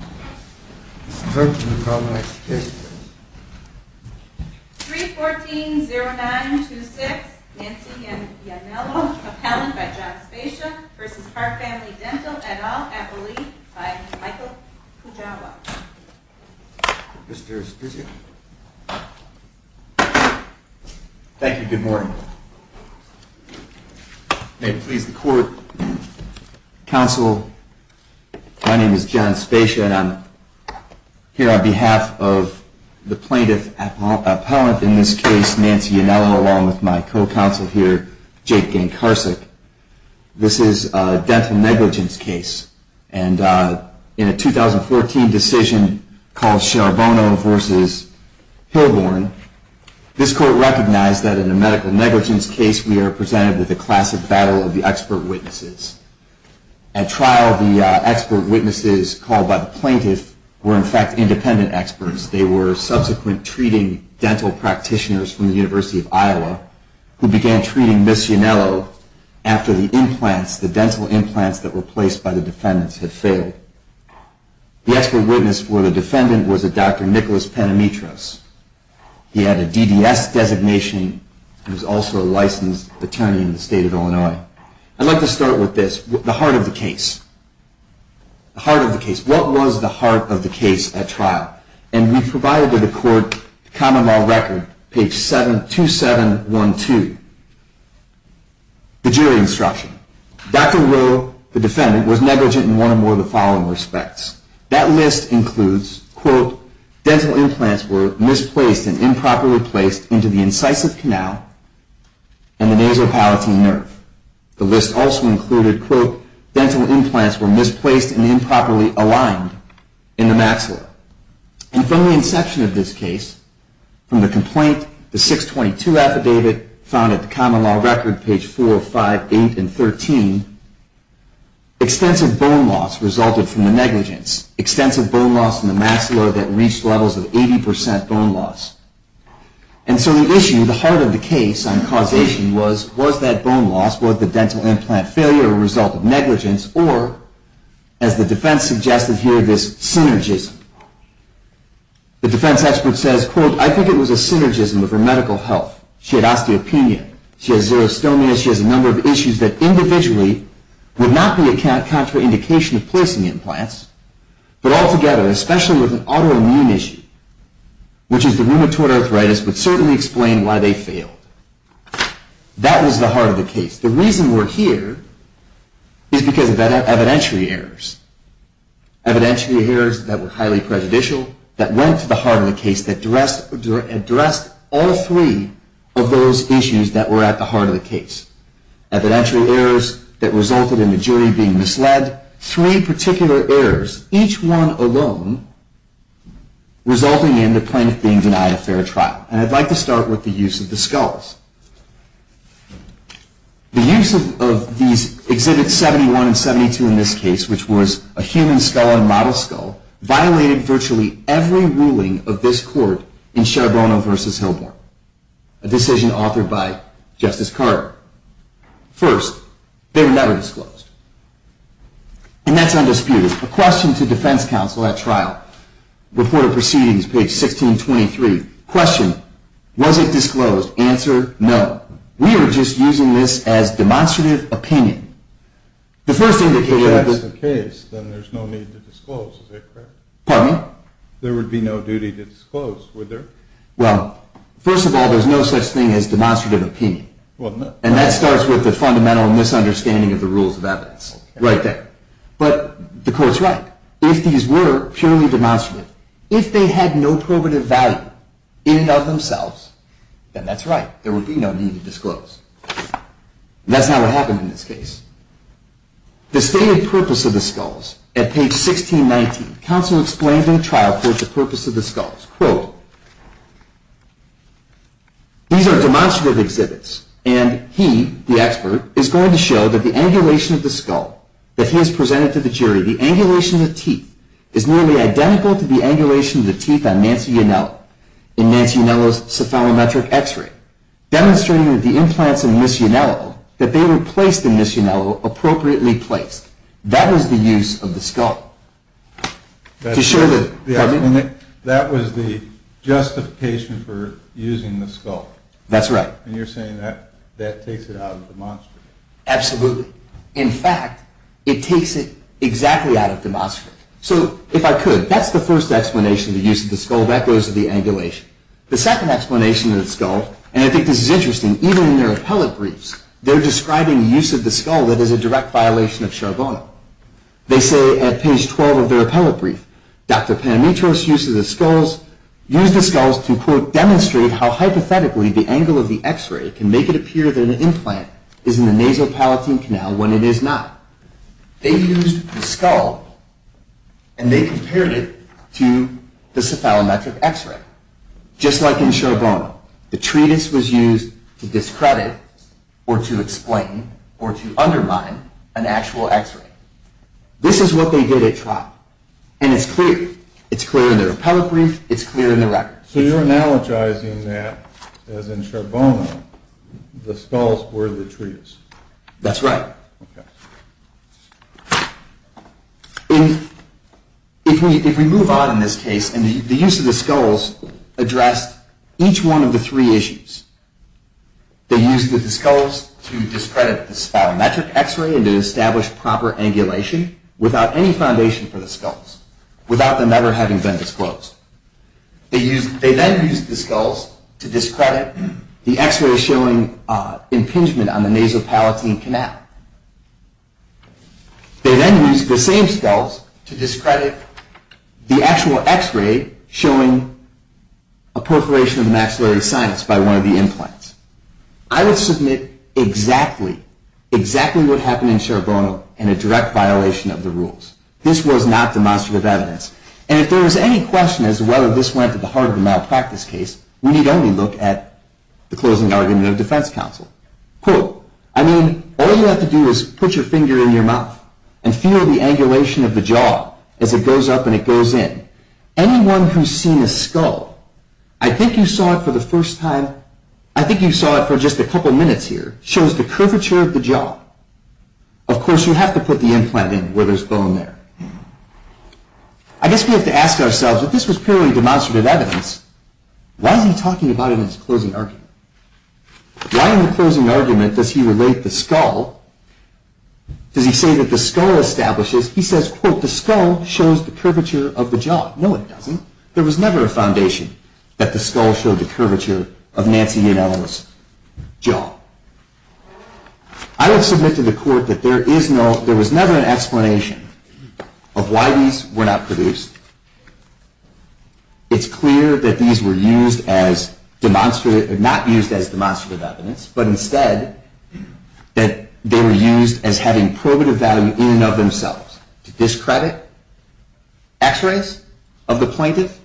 et al. Appellee, Michael Pujawa. Thank you. Good morning. May it please the court, counsel, my name is John Spatia and I'm here to on behalf of the plaintiff appellant in this case, Nancy Anello, along with my co-counsel here, Jake Gancarsik. This is a dental negligence case. And in a 2014 decision called Charbonneau v. Hilborn, this court recognized that in a medical negligence case we are presented with a classic battle of the expert witnesses called by the plaintiff were in fact independent experts. They were subsequent treating dental practitioners from the University of Iowa who began treating Ms. Anello after the implants, the dental implants that were placed by the defendants had failed. The expert witness for the defendant was a Dr. Rowe, the defendant was negligent in one or more of the following respects. That list includes, quote, dental implants were misplaced and improperly placed into the incisive canal and the nasopalatine nerve. The list also included, quote, dental implants were misplaced and improperly placed into the incisive canal and the dental implants were misplaced and improperly aligned in the maxilla. And from the inception of this case, from the complaint, the 622 affidavit found at the common law record, page 4, 5, 8, and 13, extensive bone loss resulted from the negligence, extensive bone loss in the maxilla that reached levels of 80% bone loss. And so the issue, the heart of the case on causation was, was that bone loss, was the dental implant failure a result of negligence or, as the defense suggested here, this synergism. The defense expert says, quote, I think it was a synergism of her medical health. She had osteopenia, she has xerostomia, she has a number of arthritis, but certainly explain why they failed. That was the heart of the case. The reason we're here is because of evidentiary errors. Evidentiary errors that were highly prejudicial that went to the heart of the case that addressed all three of those issues that were at the heart of the case. Evidentiary errors that were highly prejudicial that went to the heart of the case that addressed all three of those issues that addressed all three of those issues. And so I'm going to start with the use of the skulls. The use of these Exhibits 71 and 72 in this case, which was a human skull and model skull, violated virtually every ruling of this court in this case. Question, was it disclosed? Answer, no. We are just using this as demonstrative opinion. The first thing that we're going to... If that's the case, then there's no need to disclose, is that correct? Pardon me? There would be no duty to disclose, would there? Well, first of all, there's no such thing as demonstrative opinion. Well, no. And that starts with the fundamental misunderstanding of the rules of evidence right there. But the court's right. If these were purely demonstrative, if they had no probative value in and of themselves, then that's right. There would be no need to disclose. And that's not what happened in this case. The stated purpose of the skulls at page 1619. Counsel explained in the trial court the purpose of the skulls. Quote, These are demonstrative exhibits, and he, the expert, is going to show that the angulation of the skull that he has presented to the jury, the angulation of the teeth, is nearly identical to the angulation of the teeth on Nancy Yanello in Nancy Yannello's cephalometric x-ray, demonstrating that the implants in Miss Yannello, that they were placed in Miss Yannello appropriately placed. That was the use of the skull. To show that, pardon me? That was the justification for using the skull. That's right. And you're saying that that takes it out of demonstrative. Absolutely. In fact, it takes it exactly out of demonstrative. So, if I could, that's the first explanation of the use of the skull. That goes to the angulation. The second explanation of the skull, and I think this is interesting, even in their appellate briefs, they're describing use of the skull that is a direct violation of Charbonneau. They say at page 12 of their appellate brief, Dr. Panamitros uses the skulls to, quote, demonstrate how hypothetically the angle of the x-ray can make it appear that an implant is in the nasopalatine canal when it is not. They used the skull, and they compared it to the cephalometric x-ray. Just like in Charbonneau, the treatise was used to discredit or to explain or to undermine an actual x-ray. This is what they did at trial, and it's clear. It's clear in their appellate brief. It's clear in the record. So you're analogizing that, as in Charbonneau, the skulls were the treatise. That's right. Okay. If we move on in this case, and the use of the skulls addressed each one of the three issues. They used the skulls to discredit the cephalometric x-ray and to establish proper angulation without any foundation for the skulls, without them ever having been disclosed. They then used the skulls to discredit the x-ray showing impingement on the nasopalatine canal. They then used the same skulls to discredit the actual x-ray showing a perforation of the maxillary sinus by one of the implants. I would submit exactly, exactly what happened in Charbonneau in a direct violation of the rules. This was not demonstrative evidence. And if there was any question as to whether this went to the heart of the malpractice case, we need only look at the closing argument of defense counsel. Quote, I mean, all you have to do is put your finger in your mouth and feel the angulation of the jaw as it goes up and it goes in. Anyone who's seen a skull, I think you saw it for the first time, I think you saw it for just a couple minutes here, shows the curvature of the jaw. Of course, you have to put the implant in where there's bone there. I guess we have to ask ourselves, if this was purely demonstrative evidence, why is he talking about it in his closing argument? Why in the closing argument does he relate the skull? Does he say that the skull establishes, he says, quote, the skull shows the curvature of the jaw. No, it doesn't. There was never a foundation that the skull showed the curvature of Nancy Yanell's jaw. I have submitted to the court that there is no, there was never an explanation of why these were not produced. It's clear that these were used as demonstrative, not used as demonstrative evidence, but instead that they were used as having probative value in and of themselves. To discredit x-rays of the plaintiff,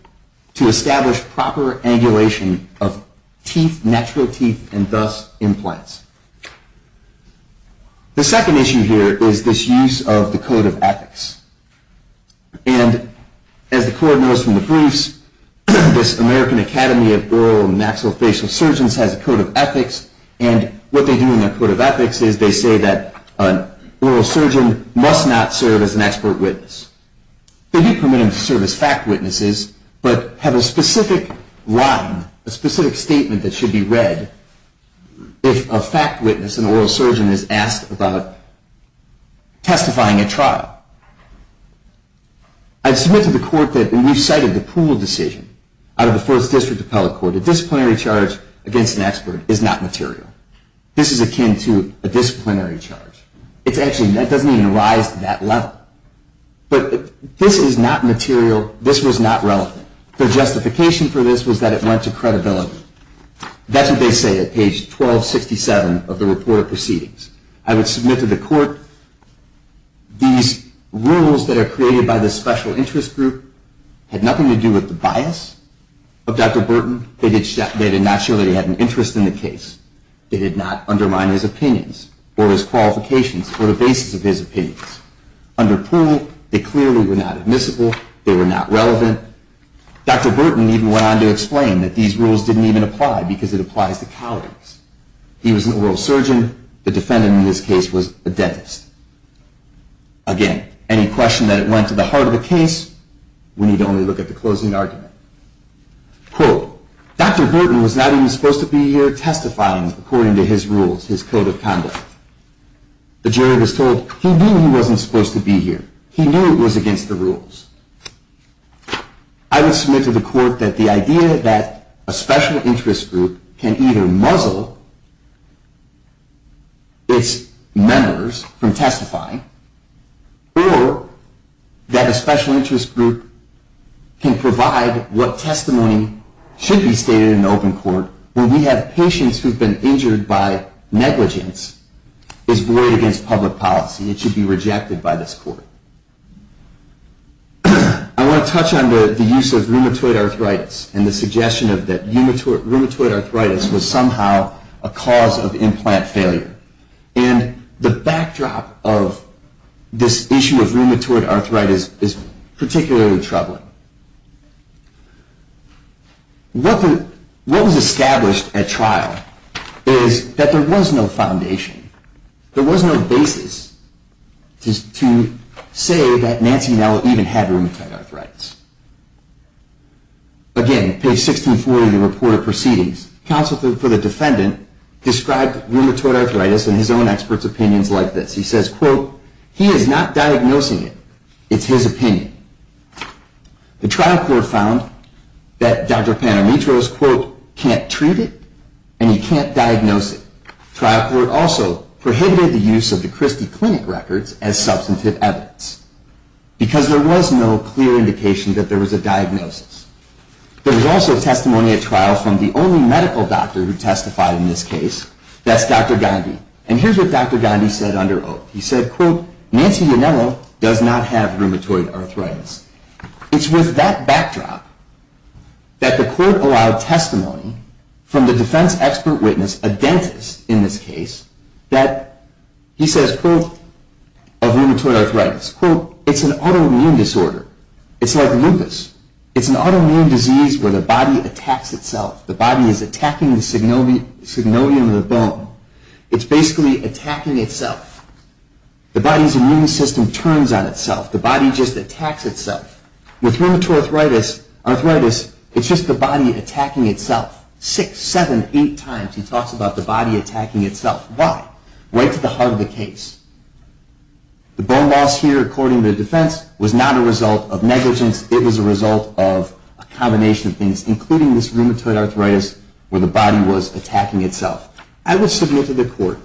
to establish proper angulation of teeth, natural teeth, and thus implants. The second issue here is this use of the code of ethics. And as the court knows from the briefs, this American Academy of Oral and Maxillofacial Surgeons has a code of ethics. And what they do in their code of ethics is they say that an oral surgeon must not serve as an expert witness. They do permit him to serve as fact witnesses, but have a specific line, a specific statement that should be read if a fact witness, an oral surgeon, is asked about testifying at trial. I've submitted to the court that, and we've cited the Poole decision out of the First District Appellate Court, the disciplinary charge against an expert is not material. This is akin to a disciplinary charge. It's actually, that doesn't even rise to that level. But this is not material, this was not relevant. The justification for this was that it went to credibility. That's what they say at page 1267 of the report of proceedings. I would submit to the court these rules that are created by the special interest group had nothing to do with the bias of Dr. Burton. They did not show that he had an interest in the case. They did not undermine his opinions or his qualifications or the basis of his opinions. Under Poole, they clearly were not admissible. They were not relevant. Dr. Burton even went on to explain that these rules didn't even apply because it applies to colleagues. He was an oral surgeon. The defendant in this case was a dentist. Again, any question that it went to the heart of the case, we need to only look at the closing argument. Quote, Dr. Burton was not even supposed to be here testifying according to his rules, his code of conduct. The jury was told he knew he wasn't supposed to be here. I would submit to the court that the idea that a special interest group can either muzzle its members from testifying or that a special interest group can provide what testimony should be stated in open court when we have patients who have been injured by negligence is void against public policy. It should be rejected by this court. I want to touch on the use of rheumatoid arthritis and the suggestion that rheumatoid arthritis was somehow a cause of implant failure. And the backdrop of this issue of rheumatoid arthritis is particularly troubling. What was established at trial is that there was no foundation. There was no basis to say that Nancy Nell even had rheumatoid arthritis. Again, page 1640, the report of proceedings. Counsel for the defendant described rheumatoid arthritis in his own expert's opinions like this. He says, quote, he is not diagnosing it. It's his opinion. The trial court found that Dr. Panamitro's, quote, can't treat it and he can't diagnose it. Trial court also prohibited the use of the Christie Clinic records as substantive evidence because there was no clear indication that there was a diagnosis. There was also testimony at trial from the only medical doctor who testified in this case. That's Dr. Gandhi. And here's what Dr. Gandhi said under oath. He said, quote, Nancy Yanemo does not have rheumatoid arthritis. It's with that backdrop that the court allowed testimony from the defense expert witness, a dentist in this case, that he says, quote, of rheumatoid arthritis. Quote, it's an autoimmune disorder. It's like lupus. It's an autoimmune disease where the body attacks itself. The body is attacking the synovium of the bone. It's basically attacking itself. The body's immune system turns on itself. The body just attacks itself. With rheumatoid arthritis, it's just the body attacking itself. Six, seven, eight times he talks about the body attacking itself. Why? Right to the heart of the case. The bone loss here, according to the defense, was not a result of negligence. It was a result of a combination of things, including this rheumatoid arthritis where the body was attacking itself. I would submit to the court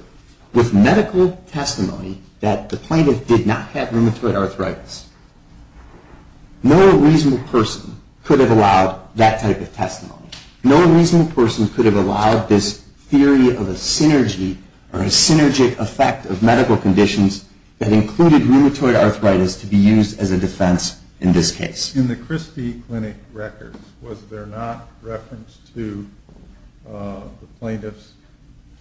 with medical testimony that the plaintiff did not have rheumatoid arthritis. No reasonable person could have allowed that type of testimony. No reasonable person could have allowed this theory of a synergy or a synergic effect of medical conditions that included rheumatoid arthritis to be used as a defense in this case. In the Christie Clinic records, was there not reference to the plaintiffs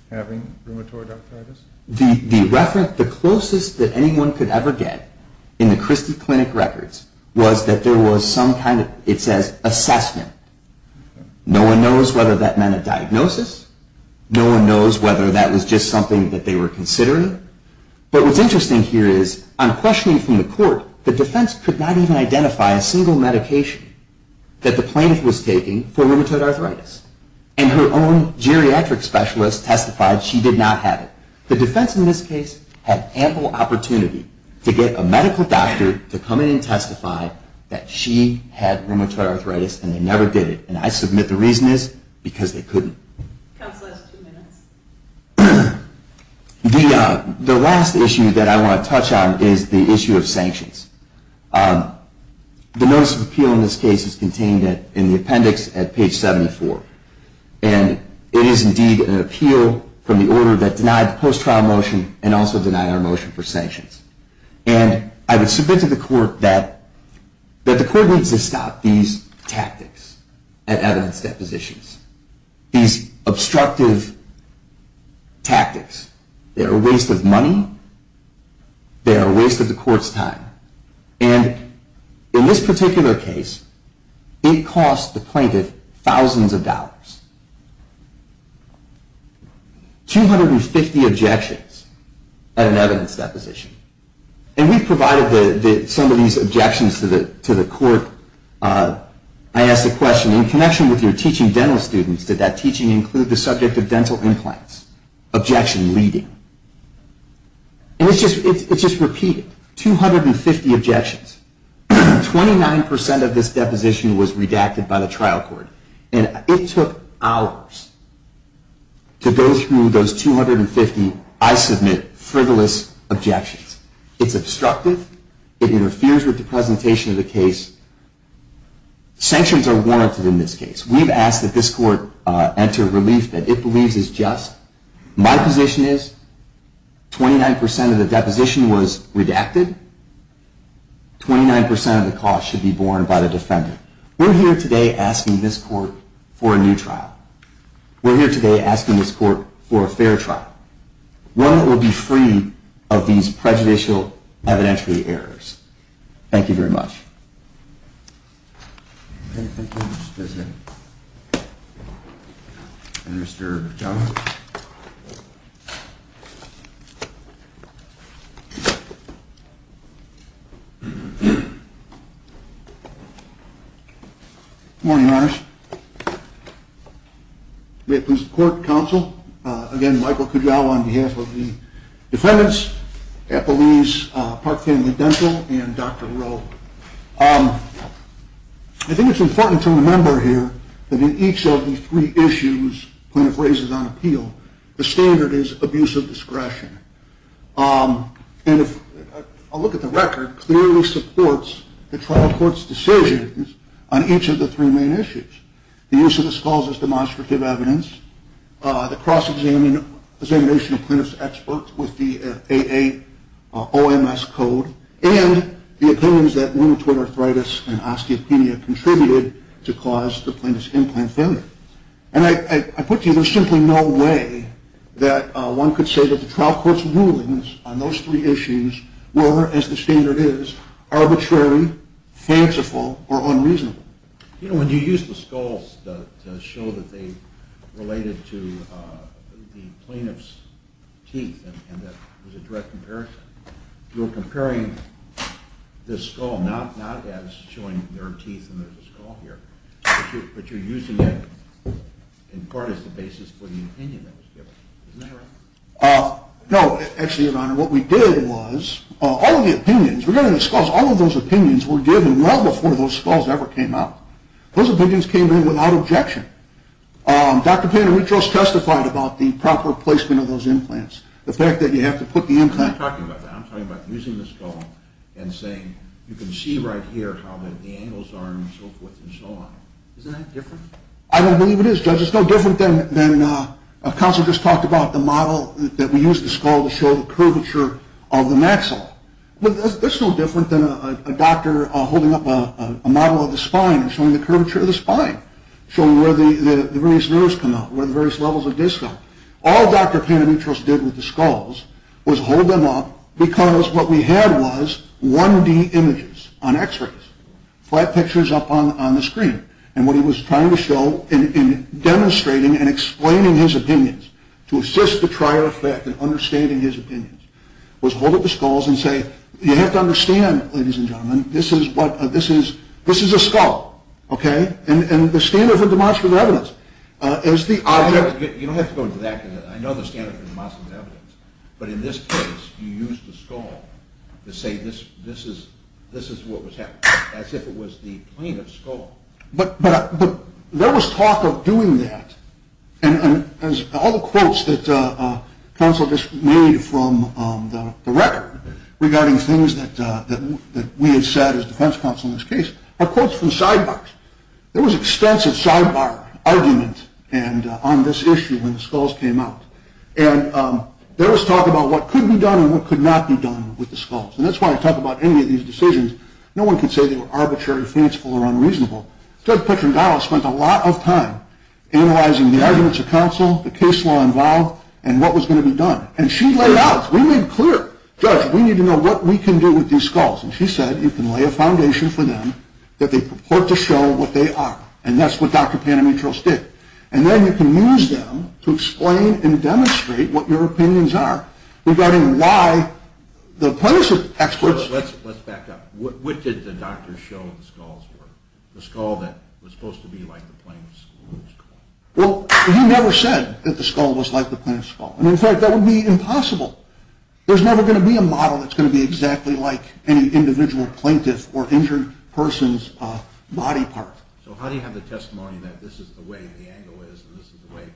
having rheumatoid arthritis? The reference, the closest that anyone could ever get in the Christie Clinic records was that there was some kind of, it says, assessment. No one knows whether that meant a diagnosis. No one knows whether that was just something that they were considering. But what's interesting here is, on questioning from the court, the defense could not even identify a single medication that the plaintiff was taking for rheumatoid arthritis. And her own geriatric specialist testified she did not have it. The defense in this case had ample opportunity to get a medical doctor to come in and testify that she had rheumatoid arthritis and they never did it. And I submit the reason is because they couldn't. The last issue that I want to touch on is the issue of sanctions. The notice of appeal in this case is contained in the appendix at page 74. And it is indeed an appeal from the order that denied the post-trial motion and also denied our motion for sanctions. And I would submit to the court that the court needs to stop these tactics at evidence depositions, these obstructive tactics. They are a waste of money. They are a waste of the court's time. And in this particular case, it cost the plaintiff thousands of dollars, 250 objections at an evidence deposition. And we provided some of these objections to the court. I asked the question, in connection with your teaching dental students, did that teaching include the subject of dental implants? Objection leading. And it's just repeated, 250 objections. Twenty-nine percent of this deposition was redacted by the trial court. And it took hours to go through those 250, I submit, frivolous objections. It's obstructive. It interferes with the presentation of the case. Sanctions are warranted in this case. We've asked that this court enter relief that it believes is just. My position is, 29% of the deposition was redacted. Twenty-nine percent of the cost should be borne by the defendant. We're here today asking this court for a new trial. We're here today asking this court for a fair trial, one that will be free of these prejudicial evidentiary errors. Thank you very much. Okay, thank you. Let's visit Mr. Kujawa. Good morning, Your Honor. May it please the court, counsel, again, Michael Kujawa on behalf of the defendants, Epeliz, Park Family Dental, and Dr. Rowe. I think it's important to remember here that in each of the three issues plaintiff raises on appeal, the standard is abuse of discretion. And if I look at the record, it clearly supports the trial court's decisions on each of the three main issues. The use of the skulls as demonstrative evidence, the cross-examination of plaintiff's expert with the AA OMS code, and the opinions that rheumatoid arthritis and osteopenia contributed to cause the plaintiff's implant failure. And I put to you, there's simply no way that one could say that the trial court's rulings on those three issues were, as the standard is, arbitrary, fanciful, or unreasonable. You know, when you used the skulls to show that they related to the plaintiff's teeth, and that was a direct comparison, you were comparing this skull not as showing there are teeth and there's a skull here, but you're using it in part as the basis for the opinion that was given. Isn't that right? No. Actually, Your Honor, what we did was all of the opinions, were given well before those skulls ever came out. Those opinions came in without objection. Dr. Paneritos testified about the proper placement of those implants. The fact that you have to put the implant... I'm not talking about that. I'm talking about using the skull and saying, you can see right here how the angles are and so forth and so on. Isn't that different? I don't believe it is, Judge. It's no different than a counselor just talked about, the model that we used the skull to show the curvature of the maxill. That's no different than a doctor holding up a model of the spine and showing the curvature of the spine, showing where the various nerves come out, where the various levels of disc come. All Dr. Paneritos did with the skulls was hold them up because what we had was 1D images on x-rays, flat pictures up on the screen, and what he was trying to show in demonstrating and explaining his opinions to assist the trial effect in understanding his opinions was hold up the skulls and say, you have to understand, ladies and gentlemen, this is a skull, okay, and the standard for demonstrative evidence is the object... You don't have to go into that. I know the standard for demonstrative evidence, but in this case he used the skull to say this is what was happening, as if it was the plane of the skull. But there was talk of doing that, and all the quotes that counsel just made from the record regarding things that we had said as defense counsel in this case are quotes from sidebars. There was extensive sidebar argument on this issue when the skulls came out, and there was talk about what could be done and what could not be done with the skulls, and that's why I talk about any of these decisions. No one can say they were arbitrary, fanciful, or unreasonable. Judge Petrangala spent a lot of time analyzing the arguments of counsel, the case law involved, and what was going to be done, and she laid out, we made it clear, Judge, we need to know what we can do with these skulls, and she said you can lay a foundation for them that they purport to show what they are, and that's what Dr. Panamitros did, and then you can use them to explain and demonstrate what your opinions are regarding why the plaintiff's experts... Let's back up. What did the doctor show the skulls were, the skull that was supposed to be like the plaintiff's skull? Well, he never said that the skull was like the plaintiff's skull, and in fact, that would be impossible. There's never going to be a model that's going to be exactly like any individual plaintiff or injured person's body part. So how do you have the testimony that this is the way the angle is and this is the way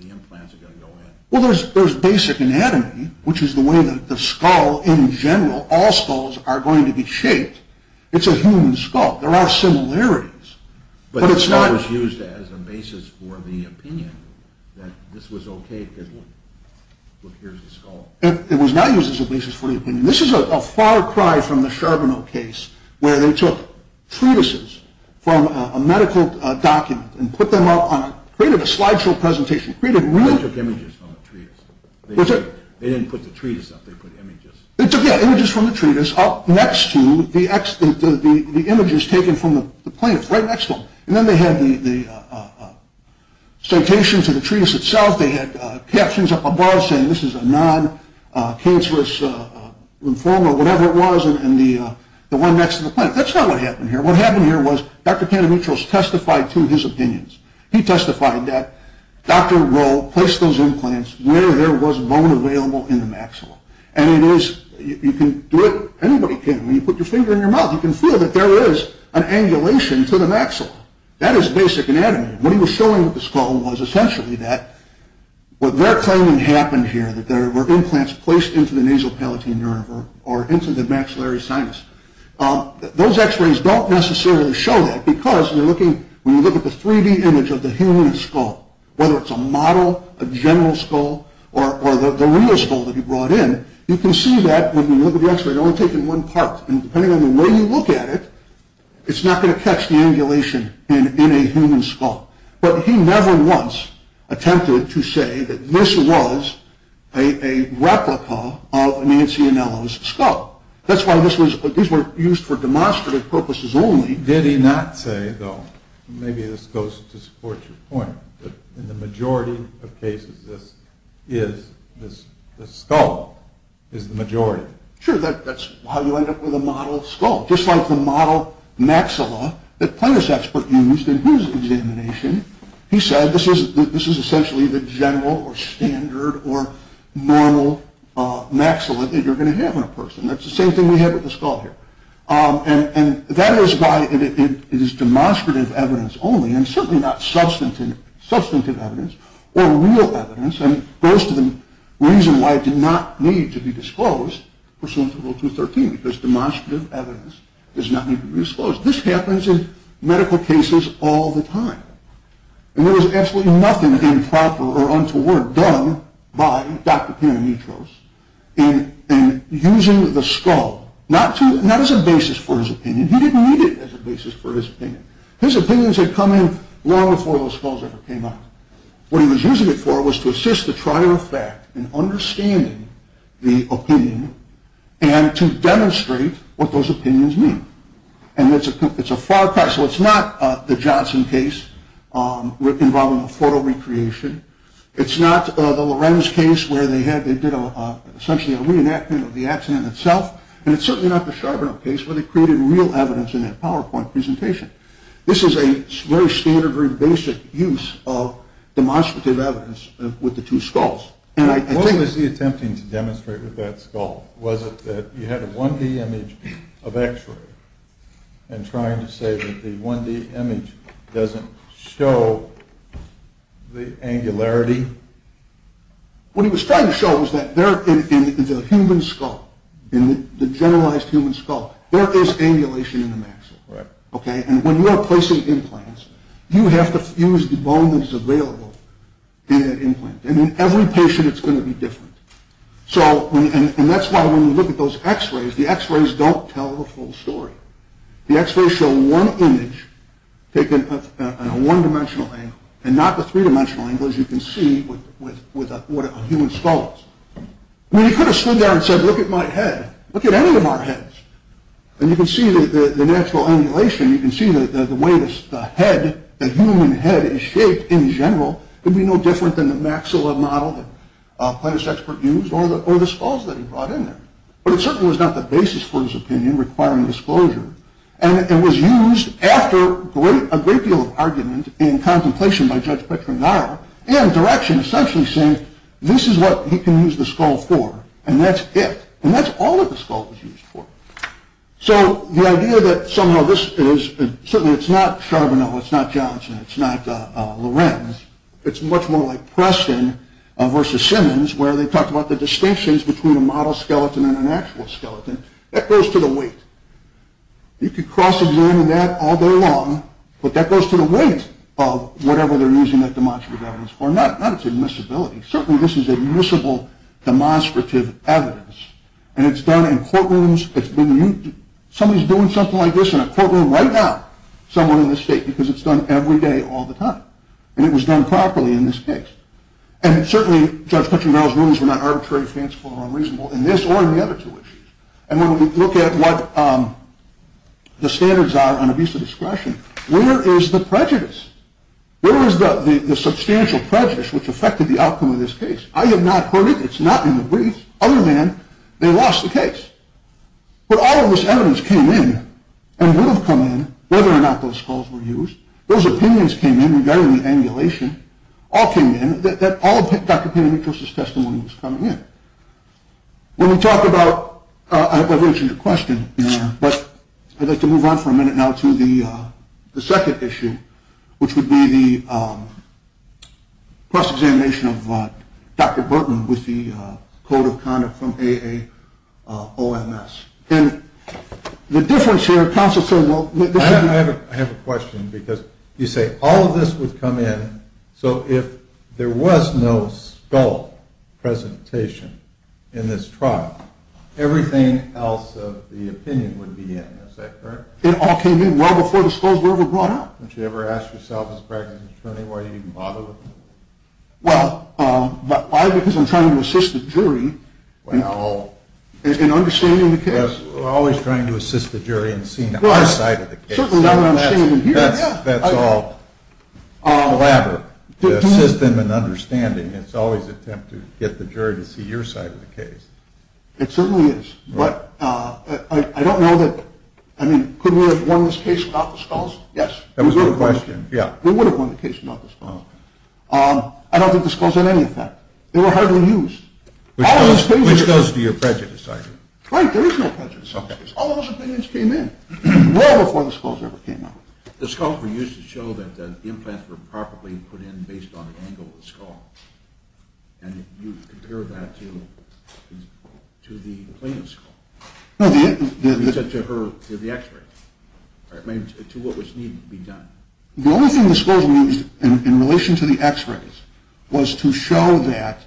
the implants are going to go in? Well, there's basic anatomy, which is the way that the skull in general, all skulls are going to be shaped. It's a human skull. There are similarities, but it's not... But the skull was used as a basis for the opinion that this was okay because, look, here's the skull. It was not used as a basis for the opinion. This is a far cry from the Charbonneau case, where they took treatises from a medical document and put them up on a... created a slideshow presentation, created real... They took images from the treatise. They didn't put the treatise up. They put images. They took, yeah, images from the treatise up next to the images taken from the plaintiff right next to them. And then they had the citations of the treatise itself. They had captions up above saying this is a non-cancerous lymphoma, whatever it was, and the one next to the plaintiff. That's not what happened here. What happened here was Dr. Kandemitrous testified to his opinions. He testified that Dr. Rowe placed those implants where there was bone available in the maxilla, and it is... You can do it. Anybody can. When you put your finger in your mouth, you can feel that there is an angulation to the maxilla. That is basic anatomy. What he was showing with the skull was essentially that what they're claiming happened here, that there were implants placed into the nasal palatine nerve or into the maxillary sinus. Those x-rays don't necessarily show that because you're looking... When you look at the 3-D image of the human skull, whether it's a model, a general skull, or the real skull that he brought in, you can see that when you look at the x-ray, it's only taken one part, and depending on the way you look at it, it's not going to catch the angulation in a human skull. But he never once attempted to say that this was a replica of Nancy Anello's skull. That's why this was... These were used for demonstrative purposes only. Did he not say, though, and maybe this goes to support your point, that in the majority of cases this is the skull, is the majority? Sure. That's how you end up with a model skull. Just like the model maxilla that Plantis Expert used in his examination, he said this is essentially the general or standard or normal maxilla that you're going to have in a person. That's the same thing we have with the skull here. And that is why it is demonstrative evidence only, and certainly not substantive evidence or real evidence, and goes to the reason why it did not need to be disclosed pursuant to Rule 213, because demonstrative evidence does not need to be disclosed. This happens in medical cases all the time. And there was absolutely nothing improper or untoward done by Dr. Peronitos in using the skull, not as a basis for his opinion. He didn't need it as a basis for his opinion. His opinions had come in long before those skulls ever came out. What he was using it for was to assist the trier of fact in understanding the opinion and to demonstrate what those opinions mean. And it's a far cry. So it's not the Johnson case involving a photo recreation. It's not the Lorenz case where they did essentially a reenactment of the accident itself. And it's certainly not the Charbonneau case where they created real evidence in that PowerPoint presentation. This is a very standard, very basic use of demonstrative evidence with the two skulls. What was he attempting to demonstrate with that skull? Was it that you had a 1D image of x-ray and trying to say that the 1D image doesn't show the angularity? What he was trying to show was that there in the human skull, in the generalized human skull, there is angulation in the maxilla. And when you are placing implants, you have to use the bone that is available in that implant. And in every patient it's going to be different. And that's why when you look at those x-rays, the x-rays don't tell the full story. The x-rays show one image taken at a one-dimensional angle and not the three-dimensional angle as you can see with a human skull. He could have stood there and said, look at my head. Look at any of our heads. And you can see the natural angulation. You can see the way the head, the human head is shaped in general. It would be no different than the maxilla model that a plant expert used or the skulls that he brought in there. But it certainly was not the basis for his opinion requiring disclosure. And it was used after a great deal of argument and contemplation by Judge Petronaro and direction essentially saying this is what he can use the skull for and that's it. And that's all that the skull was used for. So the idea that somehow this is, certainly it's not Charbonneau, it's not Johnson, it's not Lorenz, it's much more like Preston versus Simmons where they talked about the distinctions between a model skeleton and an actual skeleton. That goes to the weight. You could cross-examine that all day long, but that goes to the weight of whatever they're using that demonstrative evidence for, not its admissibility. Certainly this is admissible demonstrative evidence. And it's done in courtrooms. Somebody's doing something like this in a courtroom right now, someone in the state because it's done every day all the time. And it was done properly in this case. And certainly Judge Petronaro's rulings were not arbitrary, fanciful, or unreasonable in this or in the other two issues. And when we look at what the standards are on abuse of discretion, where is the prejudice? Where is the substantial prejudice which affected the outcome of this case? I have not heard it. It's not in the brief. Other than they lost the case. But all of this evidence came in and would have come in whether or not those skulls were used. Those opinions came in regarding the angulation, all came in, that all of Dr. Peña Nieto's testimony was coming in. When we talk about, I've answered your question, but I'd like to move on for a minute now to the second issue, which would be the cross-examination of Dr. Burton with the code of conduct from AAOMS. And the difference here, counsel, sir, well, this is. I have a question because you say all of this would come in, so if there was no skull presentation in this trial, everything else of the opinion would be in. Is that correct? It all came in well before the skulls were ever brought out. Don't you ever ask yourself as a practicing attorney why you even bother with them? Well, why? Because I'm trying to assist the jury in understanding the case. We're always trying to assist the jury in seeing our side of the case. That's all elaborate. To assist them in understanding, it's always an attempt to get the jury to see your side of the case. It certainly is. But I don't know that, I mean, could we have won this case without the skulls? Yes, we would have won the case without the skulls. I don't think the skulls had any effect. They were hardly used. Which goes to your prejudice, I hear. Right, there is no prejudice. All those opinions came in well before the skulls ever came out. The skulls were used to show that the implants were properly put in based on the angle of the skull. And you compare that to the plaintiff's skull. You said to her, to the x-ray. To what was needed to be done. The only thing the skulls were used in relation to the x-rays was to show that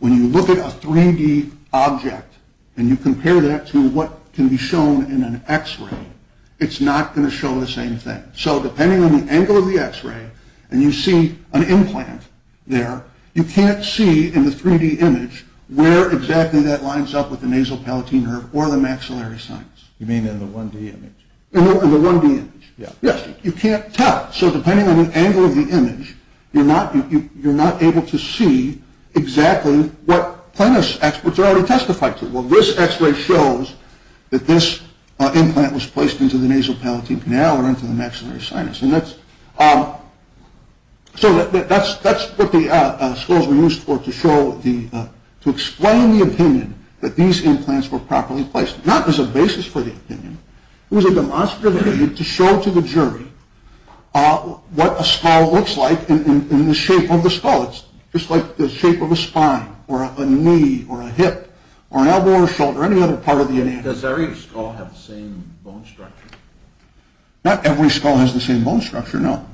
when you look at a 3D object and you compare that to what can be shown in an x-ray, it's not going to show the same thing. So depending on the angle of the x-ray and you see an implant there, you can't see in the 3D image where exactly that lines up with the nasal palatine nerve or the maxillary sinus. You mean in the 1D image? In the 1D image, yes. You can't tell. So depending on the angle of the image, you're not able to see exactly what plaintiff's experts have already testified to. Well, this x-ray shows that this implant was placed into the nasal palatine canal or into the maxillary sinus. So that's what the skulls were used for, to show, to explain the opinion that these implants were properly placed. Not as a basis for the opinion. It was a demonstrative opinion to show to the jury what a skull looks like and the shape of the skull. It's just like the shape of a spine or a knee or a hip or an elbow or a shoulder or any other part of the anatomy. Does every skull have the same bone structure? Not every skull has the same bone structure, no.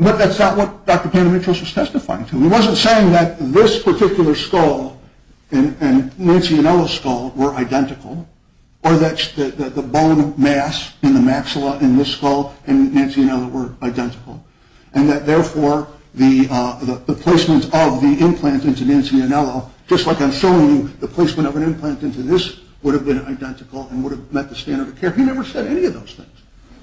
But that's not what Dr. Peña-Mitros was testifying to. He wasn't saying that this particular skull and Nancy Inola's skull were identical or that the bone mass in the maxilla in this skull and Nancy Inola were identical and that, therefore, the placement of the implant into Nancy Inola, just like I'm showing you, the placement of an implant into this would have been identical and would have met the standard of care. He never said any of those things.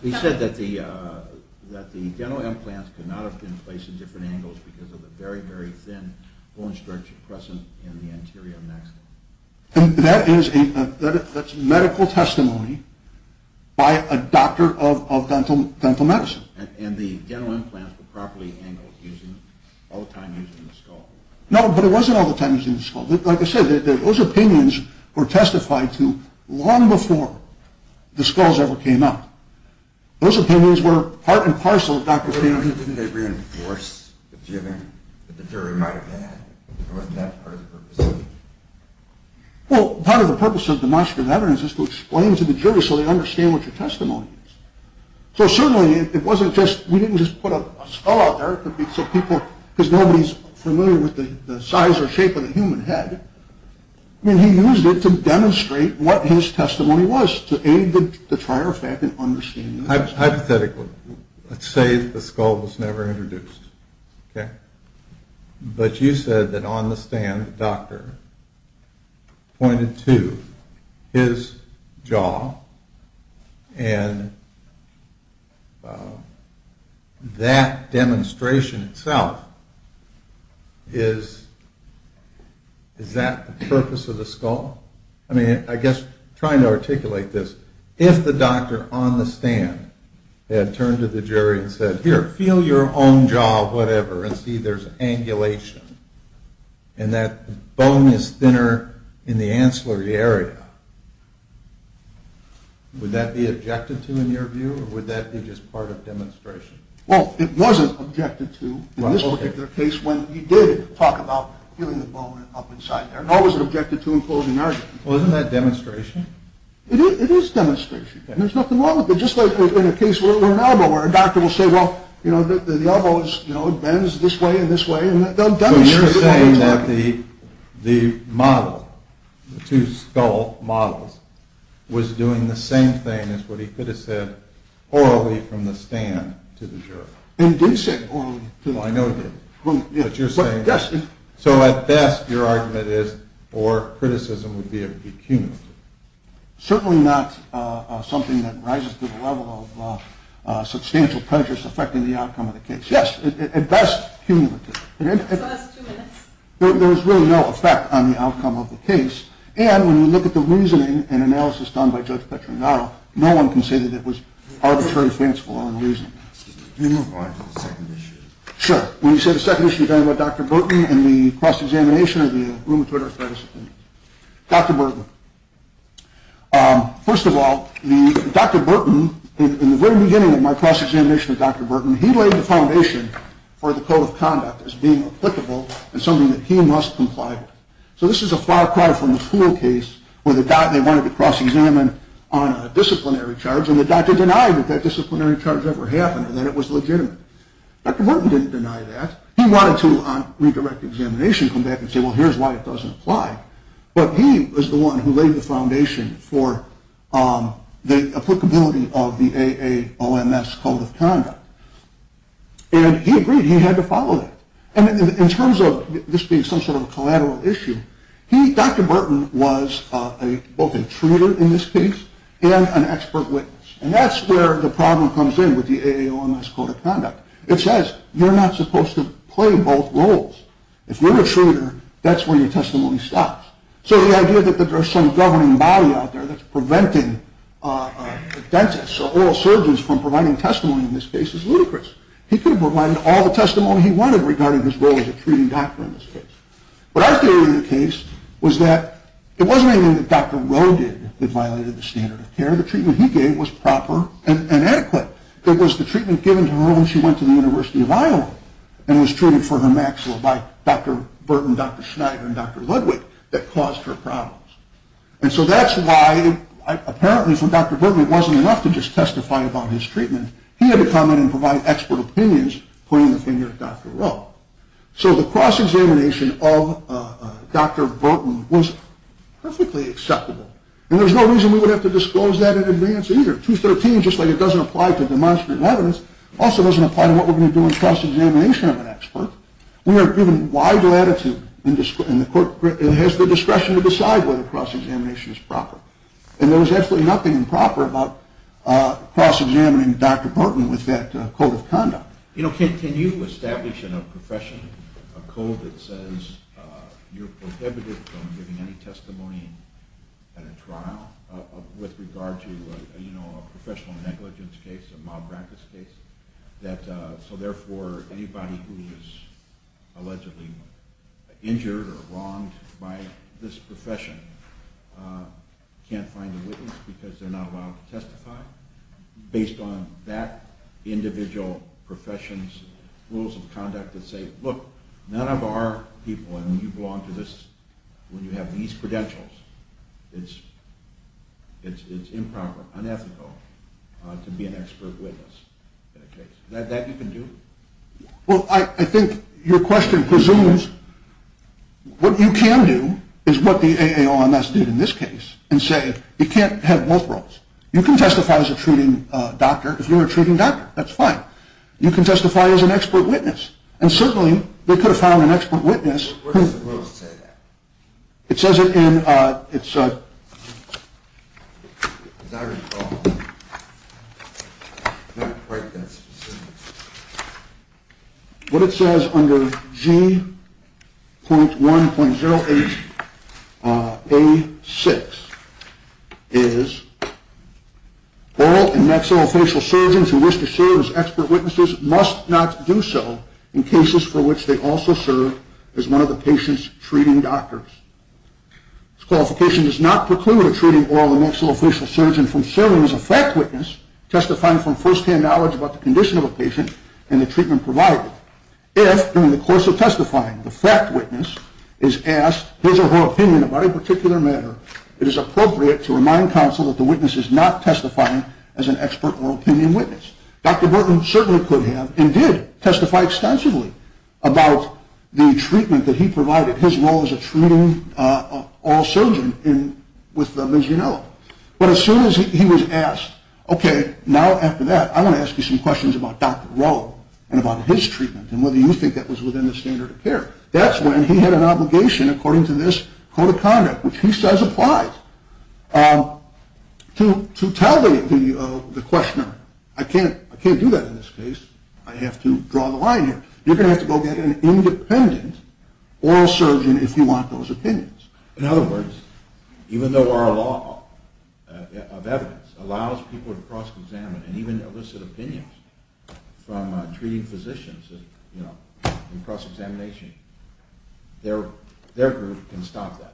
He said that the dental implants could not have been placed in different angles because of the very, very thin bone structure present in the anterior maxilla. That's medical testimony by a doctor of dental medicine. And the dental implants were properly angled all the time using the skull? No, but it wasn't all the time using the skull. Like I said, those opinions were testified to long before the skulls ever came up. Those opinions were part and parcel of Dr. Peña-Mitros. Didn't they reinforce the jibbing that the jury might have had? Wasn't that part of the purpose of the jibbing? Well, part of the purpose of demonstrative evidence is to explain to the jury so they understand what your testimony is. So certainly it wasn't just, we didn't just put a skull out there because people, because nobody's familiar with the size or shape of the human head. I mean, he used it to demonstrate what his testimony was, to aid the trier effect in understanding. Hypothetically, let's say the skull was never introduced, okay? But you said that on the stand the doctor pointed to his jaw, and that demonstration itself, is that the purpose of the skull? I mean, I guess trying to articulate this, if the doctor on the stand had turned to the jury and said, here, feel your own jaw, whatever, and see there's angulation, and that bone is thinner in the ancillary area, would that be objected to in your view, or would that be just part of demonstration? Well, it wasn't objected to in this particular case when he did talk about feeling the bone up inside there. It wasn't objected to in closing arguments. Well, isn't that demonstration? It is demonstration, and there's nothing wrong with it. It's just like in a case where an elbow, where a doctor will say, well, you know, the elbow bends this way and this way, and they'll demonstrate the way it's working. So you're saying that the model, the two skull models, was doing the same thing as what he could have said orally from the stand to the jury. And he did say orally to the jury. Well, I know he did. But you're saying that. Yes. So at best, your argument is, or criticism would be a pecuniary. Certainly not something that rises to the level of substantial prejudice affecting the outcome of the case. Yes. At best, cumulative. So that's two minutes. There's really no effect on the outcome of the case. And when you look at the reasoning and analysis done by Judge Petrangaro, no one can say that it was arbitrary, fanciful or unreasonable. Excuse me. Can you move on to the second issue? Sure. When you say the second issue, you're talking about Dr. Burton and the cross-examination of the rheumatoid arthritis. Dr. Burton. First of all, Dr. Burton, in the very beginning of my cross-examination of Dr. Burton, he laid the foundation for the code of conduct as being applicable and something that he must comply with. So this is a far cry from the pool case where they wanted to cross-examine on a disciplinary charge, and the doctor denied that that disciplinary charge ever happened and that it was legitimate. Dr. Burton didn't deny that. He wanted to, on redirect examination, come back and say, well, here's why it doesn't apply. But he was the one who laid the foundation for the applicability of the AAOMS code of conduct. And he agreed. He had to follow that. And in terms of this being some sort of a collateral issue, Dr. Burton was both a treater in this case and an expert witness. And that's where the problem comes in with the AAOMS code of conduct. It says you're not supposed to play both roles. If you're a treater, that's where your testimony stops. So the idea that there's some governing body out there that's preventing dentists or oral surgeons from providing testimony in this case is ludicrous. He could have provided all the testimony he wanted regarding his role as a treating doctor in this case. But our theory of the case was that it wasn't anything that Dr. Rowe did that violated the standard of care. The treatment he gave was proper and adequate. It was the treatment given to her when she went to the University of Iowa and was treated for her maxilla by Dr. Burton, Dr. Schneider, and Dr. Ludwig that caused her problems. And so that's why apparently for Dr. Burton it wasn't enough to just testify about his treatment. He had to come in and provide expert opinions, pointing the finger at Dr. Rowe. So the cross-examination of Dr. Burton was perfectly acceptable. And there's no reason we would have to disclose that in advance either. 213, just like it doesn't apply to demonstrative evidence, also doesn't apply to what we're going to do in cross-examination of an expert. We are given wide latitude and has the discretion to decide whether cross-examination is proper. And there was absolutely nothing improper about cross-examining Dr. Burton with that code of conduct. Can you establish in a profession a code that says you're prohibited from giving any testimony at a trial with regard to a professional negligence case, a mob practice case, so therefore anybody who is allegedly injured or wronged by this profession can't find a witness because they're not allowed to testify based on that individual profession's rules of conduct that say, look, none of our people, and you belong to this when you have these credentials, it's improper, unethical to be an expert witness in a case. Is that what you can do? Well, I think your question presumes what you can do is what the AAONS did in this case and say it can't have both roles. You can testify as a treating doctor if you're a treating doctor. That's fine. You can testify as an expert witness. And certainly they could have found an expert witness. Where does the rules say that? It says it in its... As I recall, it's not quite that specific. What it says under G.1.08A6 is oral and maxillofacial surgeons who wish to serve as expert witnesses must not do so in cases for which they also serve as one of the patient's treating doctors. This qualification does not preclude a treating oral and maxillofacial surgeon from serving as a fact witness testifying from first-hand knowledge about the condition of a patient and the treatment provided. If, during the course of testifying, the fact witness is asked his or her opinion about a particular matter, it is appropriate to remind counsel that the witness is not testifying as an expert oral opinion witness. Dr. Burton certainly could have and did testify extensively about the treatment that he provided, his role as a treating oral surgeon with Ms. Grinnell. But as soon as he was asked, okay, now after that, I want to ask you some questions about Dr. Rowe and about his treatment and whether you think that was within the standard of care. That's when he had an obligation, according to this code of conduct, which he says applies, to tell the questioner, I can't do that in this case. I have to draw the line here. You're going to have to go get an independent oral surgeon if you want those opinions. In other words, even though our law of evidence allows people to cross-examine and even elicit opinions from treating physicians in cross-examination, their group can stop that.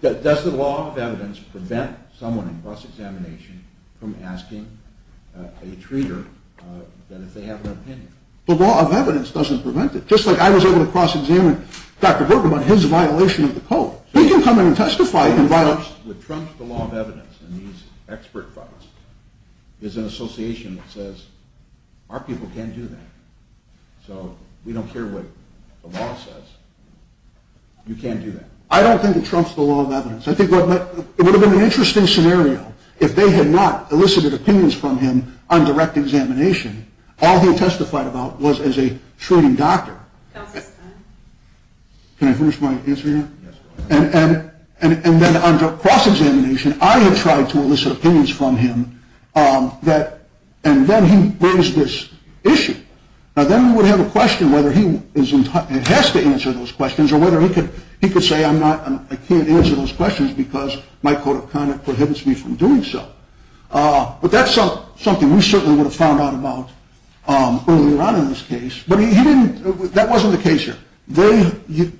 Does the law of evidence prevent someone in cross-examination from asking a treater if they have an opinion? The law of evidence doesn't prevent it. Just like I was able to cross-examine Dr. Burton on his violation of the code. He can come in and testify. What trumps the law of evidence in these expert fights is an association that says our people can't do that. So we don't care what the law says. You can't do that. I don't think it trumps the law of evidence. I think it would have been an interesting scenario if they had not elicited opinions from him on direct examination. All he testified about was as a treating doctor. Can I finish my answer here? And then under cross-examination, I had tried to elicit opinions from him, and then he raised this issue. Now then we would have a question whether he has to answer those questions or whether he could say, I can't answer those questions because my code of conduct prohibits me from doing so. But that's something we certainly would have found out about earlier on in this case. That wasn't the case here. They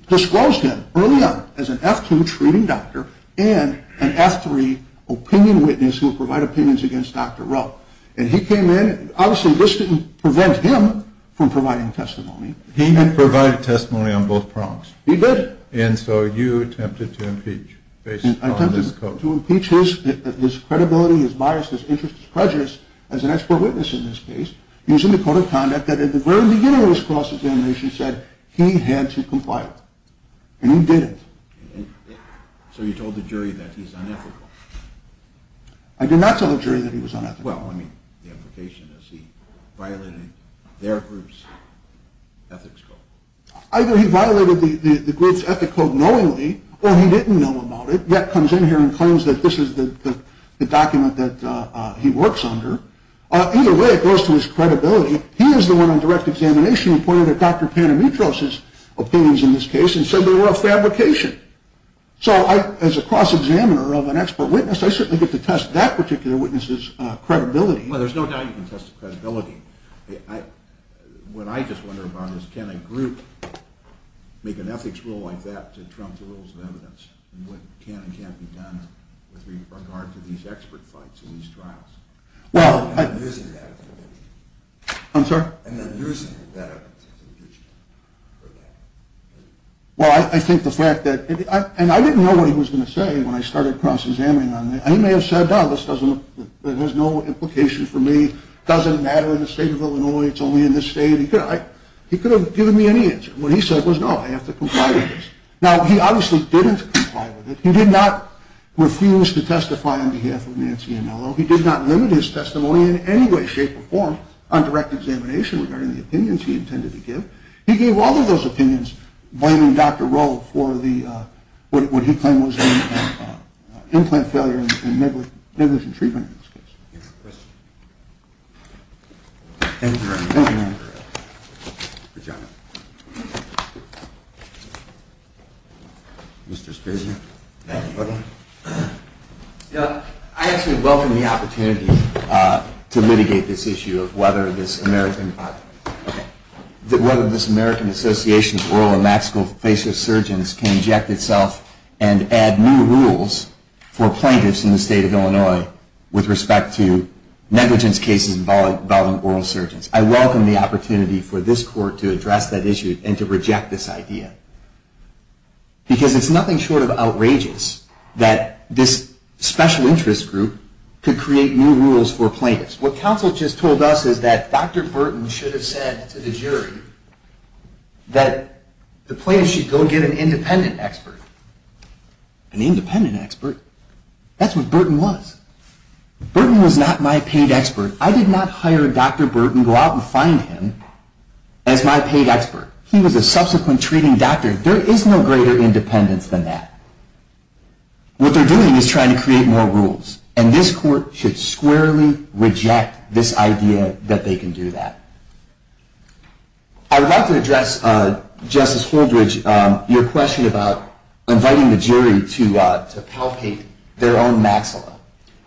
disclosed him early on as an F2 treating doctor and an F3 opinion witness who would provide opinions against Dr. Rowe. And he came in, obviously this didn't prevent him from providing testimony. He provided testimony on both prongs. He did. And so you attempted to impeach based on this code. I attempted to impeach his credibility, his bias, his interests, his prejudice as an expert witness in this case using the code of conduct that at the very beginning of his cross-examination said he had to comply with. And he didn't. So you told the jury that he's unethical. I did not tell the jury that he was unethical. Well, I mean, the implication is he violated their group's ethics code. Either he violated the group's ethics code knowingly or he didn't know about it, yet comes in here and claims that this is the document that he works under. Either way, it goes to his credibility. He is the one on direct examination who pointed to Dr. Panamitros' opinions in this case and said they were a fabrication. So as a cross-examiner of an expert witness, I certainly get to test that particular witness's credibility. Well, there's no doubt you can test his credibility. What I just wonder about is can a group make an ethics rule like that to trump the rules of evidence? What can and can't be done with regard to these expert fights and these trials? And then using that evidence in the future. Well, I think the fact that – and I didn't know what he was going to say when I started cross-examining on this. He may have said, no, this has no implication for me. It doesn't matter in the state of Illinois. It's only in this state. He could have given me any answer. What he said was, no, I have to comply with this. Now, he obviously didn't comply with it. He did not refuse to testify on behalf of Nancy Anello. He did not limit his testimony in any way, shape, or form on direct examination regarding the opinions he intended to give. He gave all of those opinions, blaming Dr. Rowe for what he claimed was an implant failure and negligent treatment in this case. Thank you very much. Thank you. Good job. Mr. Spitzley. I actually welcome the opportunity to mitigate this issue of whether this American Association of Oral and Maxillofacial Surgeons can inject itself and add new rules for plaintiffs in the state of Illinois with respect to negligence cases involving oral surgeons. I welcome the opportunity for this court to address that issue and to reject this idea. Because it's nothing short of outrageous that this special interest group could create new rules for plaintiffs. What counsel just told us is that Dr. Burton should have said to the jury that the plaintiffs should go get an independent expert. An independent expert. That's what Burton was. Burton was not my paid expert. I did not hire Dr. Burton, go out and find him as my paid expert. He was a subsequent treating doctor. There is no greater independence than that. What they're doing is trying to create more rules. And this court should squarely reject this idea that they can do that. I would like to address, Justice Holdridge, your question about inviting the jury to palpate their own maxilla.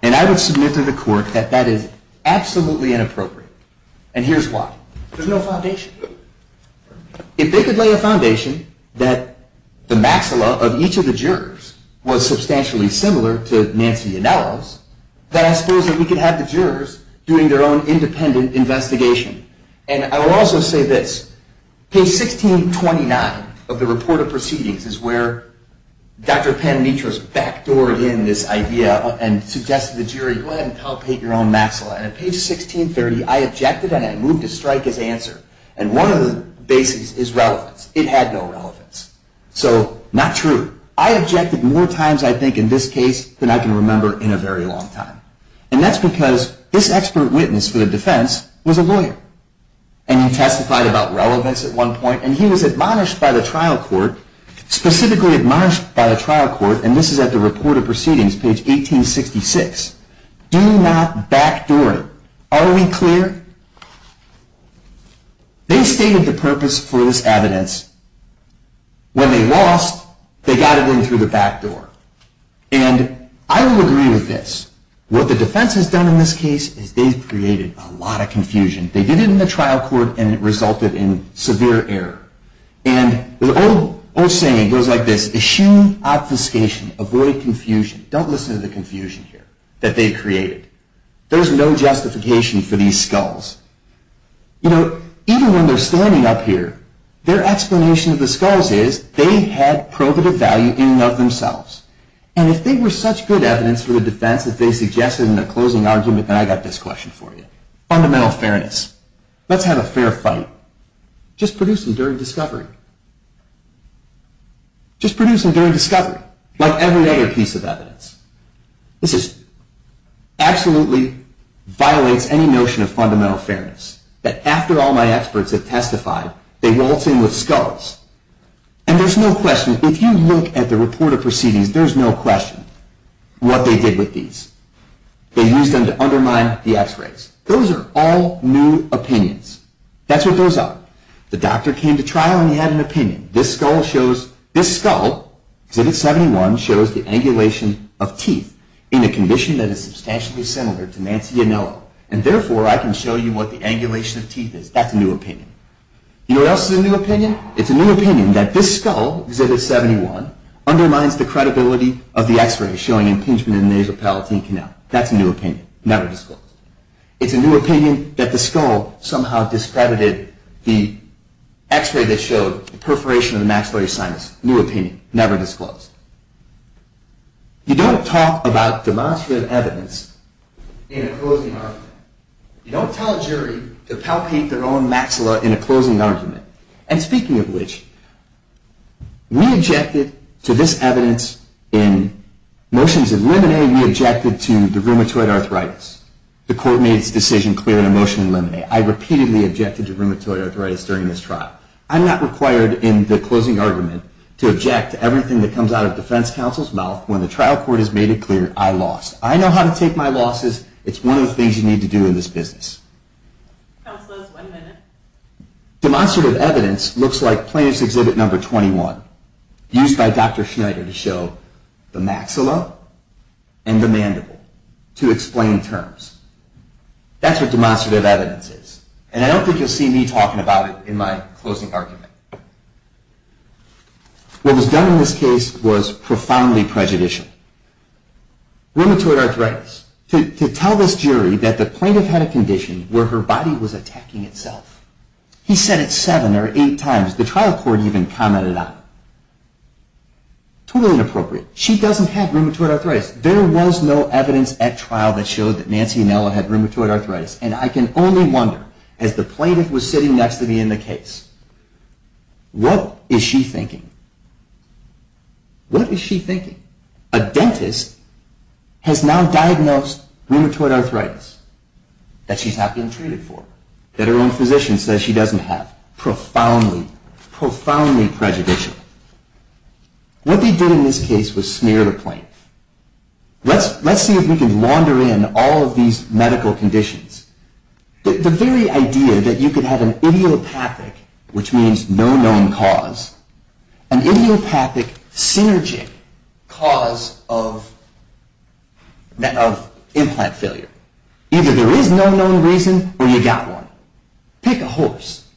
And I would submit to the court that that is absolutely inappropriate. And here's why. There's no foundation. If they could lay a foundation that the maxilla of each of the jurors was substantially similar to Nancy Anello's, then I suppose that we could have the jurors doing their own independent investigation. And I will also say this. Page 1629 of the report of proceedings is where Dr. Panitra's backdoored in this idea and suggested to the jury, go ahead and palpate your own maxilla. And at page 1630, I objected and I moved to strike his answer. And one of the bases is relevance. It had no relevance. So not true. I objected more times, I think, in this case than I can remember in a very long time. And that's because this expert witness for the defense was a lawyer. And he testified about relevance at one point, and he was admonished by the trial court, specifically admonished by the trial court, and this is at the report of proceedings, page 1866. Do not backdoor it. Are we clear? They stated the purpose for this evidence. When they lost, they got it in through the backdoor. And I will agree with this. What the defense has done in this case is they've created a lot of confusion. They did it in the trial court, and it resulted in severe error. And the old saying goes like this, assume obfuscation, avoid confusion. Don't listen to the confusion here that they created. There's no justification for these skulls. You know, even when they're standing up here, their explanation of the skulls is they had probative value in and of themselves. And if they were such good evidence for the defense that they suggested in their closing argument, and I got this question for you, fundamental fairness. Let's have a fair fight. Just produce them during discovery. Just produce them during discovery, like every other piece of evidence. This absolutely violates any notion of fundamental fairness, that after all my experts have testified, they waltz in with skulls. And there's no question, if you look at the report of proceedings, there's no question what they did with these. They used them to undermine the x-rays. Those are all new opinions. That's what goes on. The doctor came to trial and he had an opinion. This skull shows, this skull, Exhibit 71, shows the angulation of teeth in a condition that is substantially similar to Nancy Yanello. And therefore, I can show you what the angulation of teeth is. That's a new opinion. You know what else is a new opinion? It's a new opinion that this skull, Exhibit 71, undermines the credibility of the x-rays showing impingement in the nasal palatine canal. That's a new opinion. Never disclosed. It's a new opinion that the skull somehow discredited the x-ray that showed the perforation of the maxillary sinus. New opinion. Never disclosed. You don't talk about demonstrative evidence in a closing argument. You don't tell a jury to palpate their own maxilla in a closing argument. And speaking of which, we objected to this evidence in motions in limine. We objected to the rheumatoid arthritis. The court made its decision clear in a motion in limine. I repeatedly objected to rheumatoid arthritis during this trial. I'm not required in the closing argument to object to everything that comes out of defense counsel's mouth. When the trial court has made it clear, I lost. I know how to take my losses. It's one of the things you need to do in this business. Demonstrative evidence looks like plaintiff's exhibit number 21 used by Dr. Schneider to show the maxilla and the mandible to explain terms. That's what demonstrative evidence is. And I don't think you'll see me talking about it in my closing argument. What was done in this case was profoundly prejudicial. Rheumatoid arthritis. To tell this jury that the plaintiff had a condition where her body was attacking itself. He said it seven or eight times. The trial court even commented on it. Totally inappropriate. She doesn't have rheumatoid arthritis. There was no evidence at trial that showed that Nancy Anello had rheumatoid arthritis. And I can only wonder, as the plaintiff was sitting next to me in the case, what is she thinking? What is she thinking? A dentist has now diagnosed rheumatoid arthritis that she's not being treated for. That her own physician says she doesn't have. Profoundly, profoundly prejudicial. What they did in this case was smear the plaintiff. Let's see if we can wander in all of these medical conditions. The very idea that you could have an idiopathic, which means no known cause, an idiopathic, synergic cause of implant failure. Either there is no known reason or you got one. Pick a horse.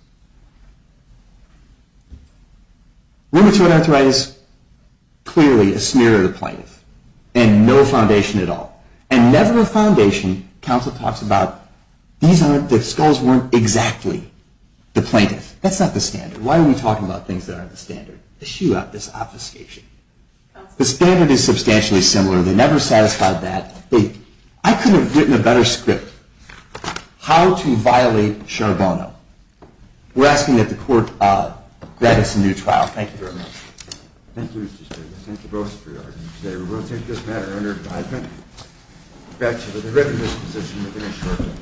Rheumatoid arthritis, clearly a smear of the plaintiff. And no foundation at all. And never a foundation. Counsel talks about the skulls weren't exactly the plaintiff. That's not the standard. Why are we talking about things that aren't the standard? To shoo out this obfuscation. The standard is substantially similar. They never satisfied that. I could have written a better script. How to violate Charbonneau. We're asking that the court grant us a new trial. Thank you very much. Thank you, Mr. Stiglitz. Thank you both for your arguments today. We will take this matter under indictment. Back to the written disposition within a short time.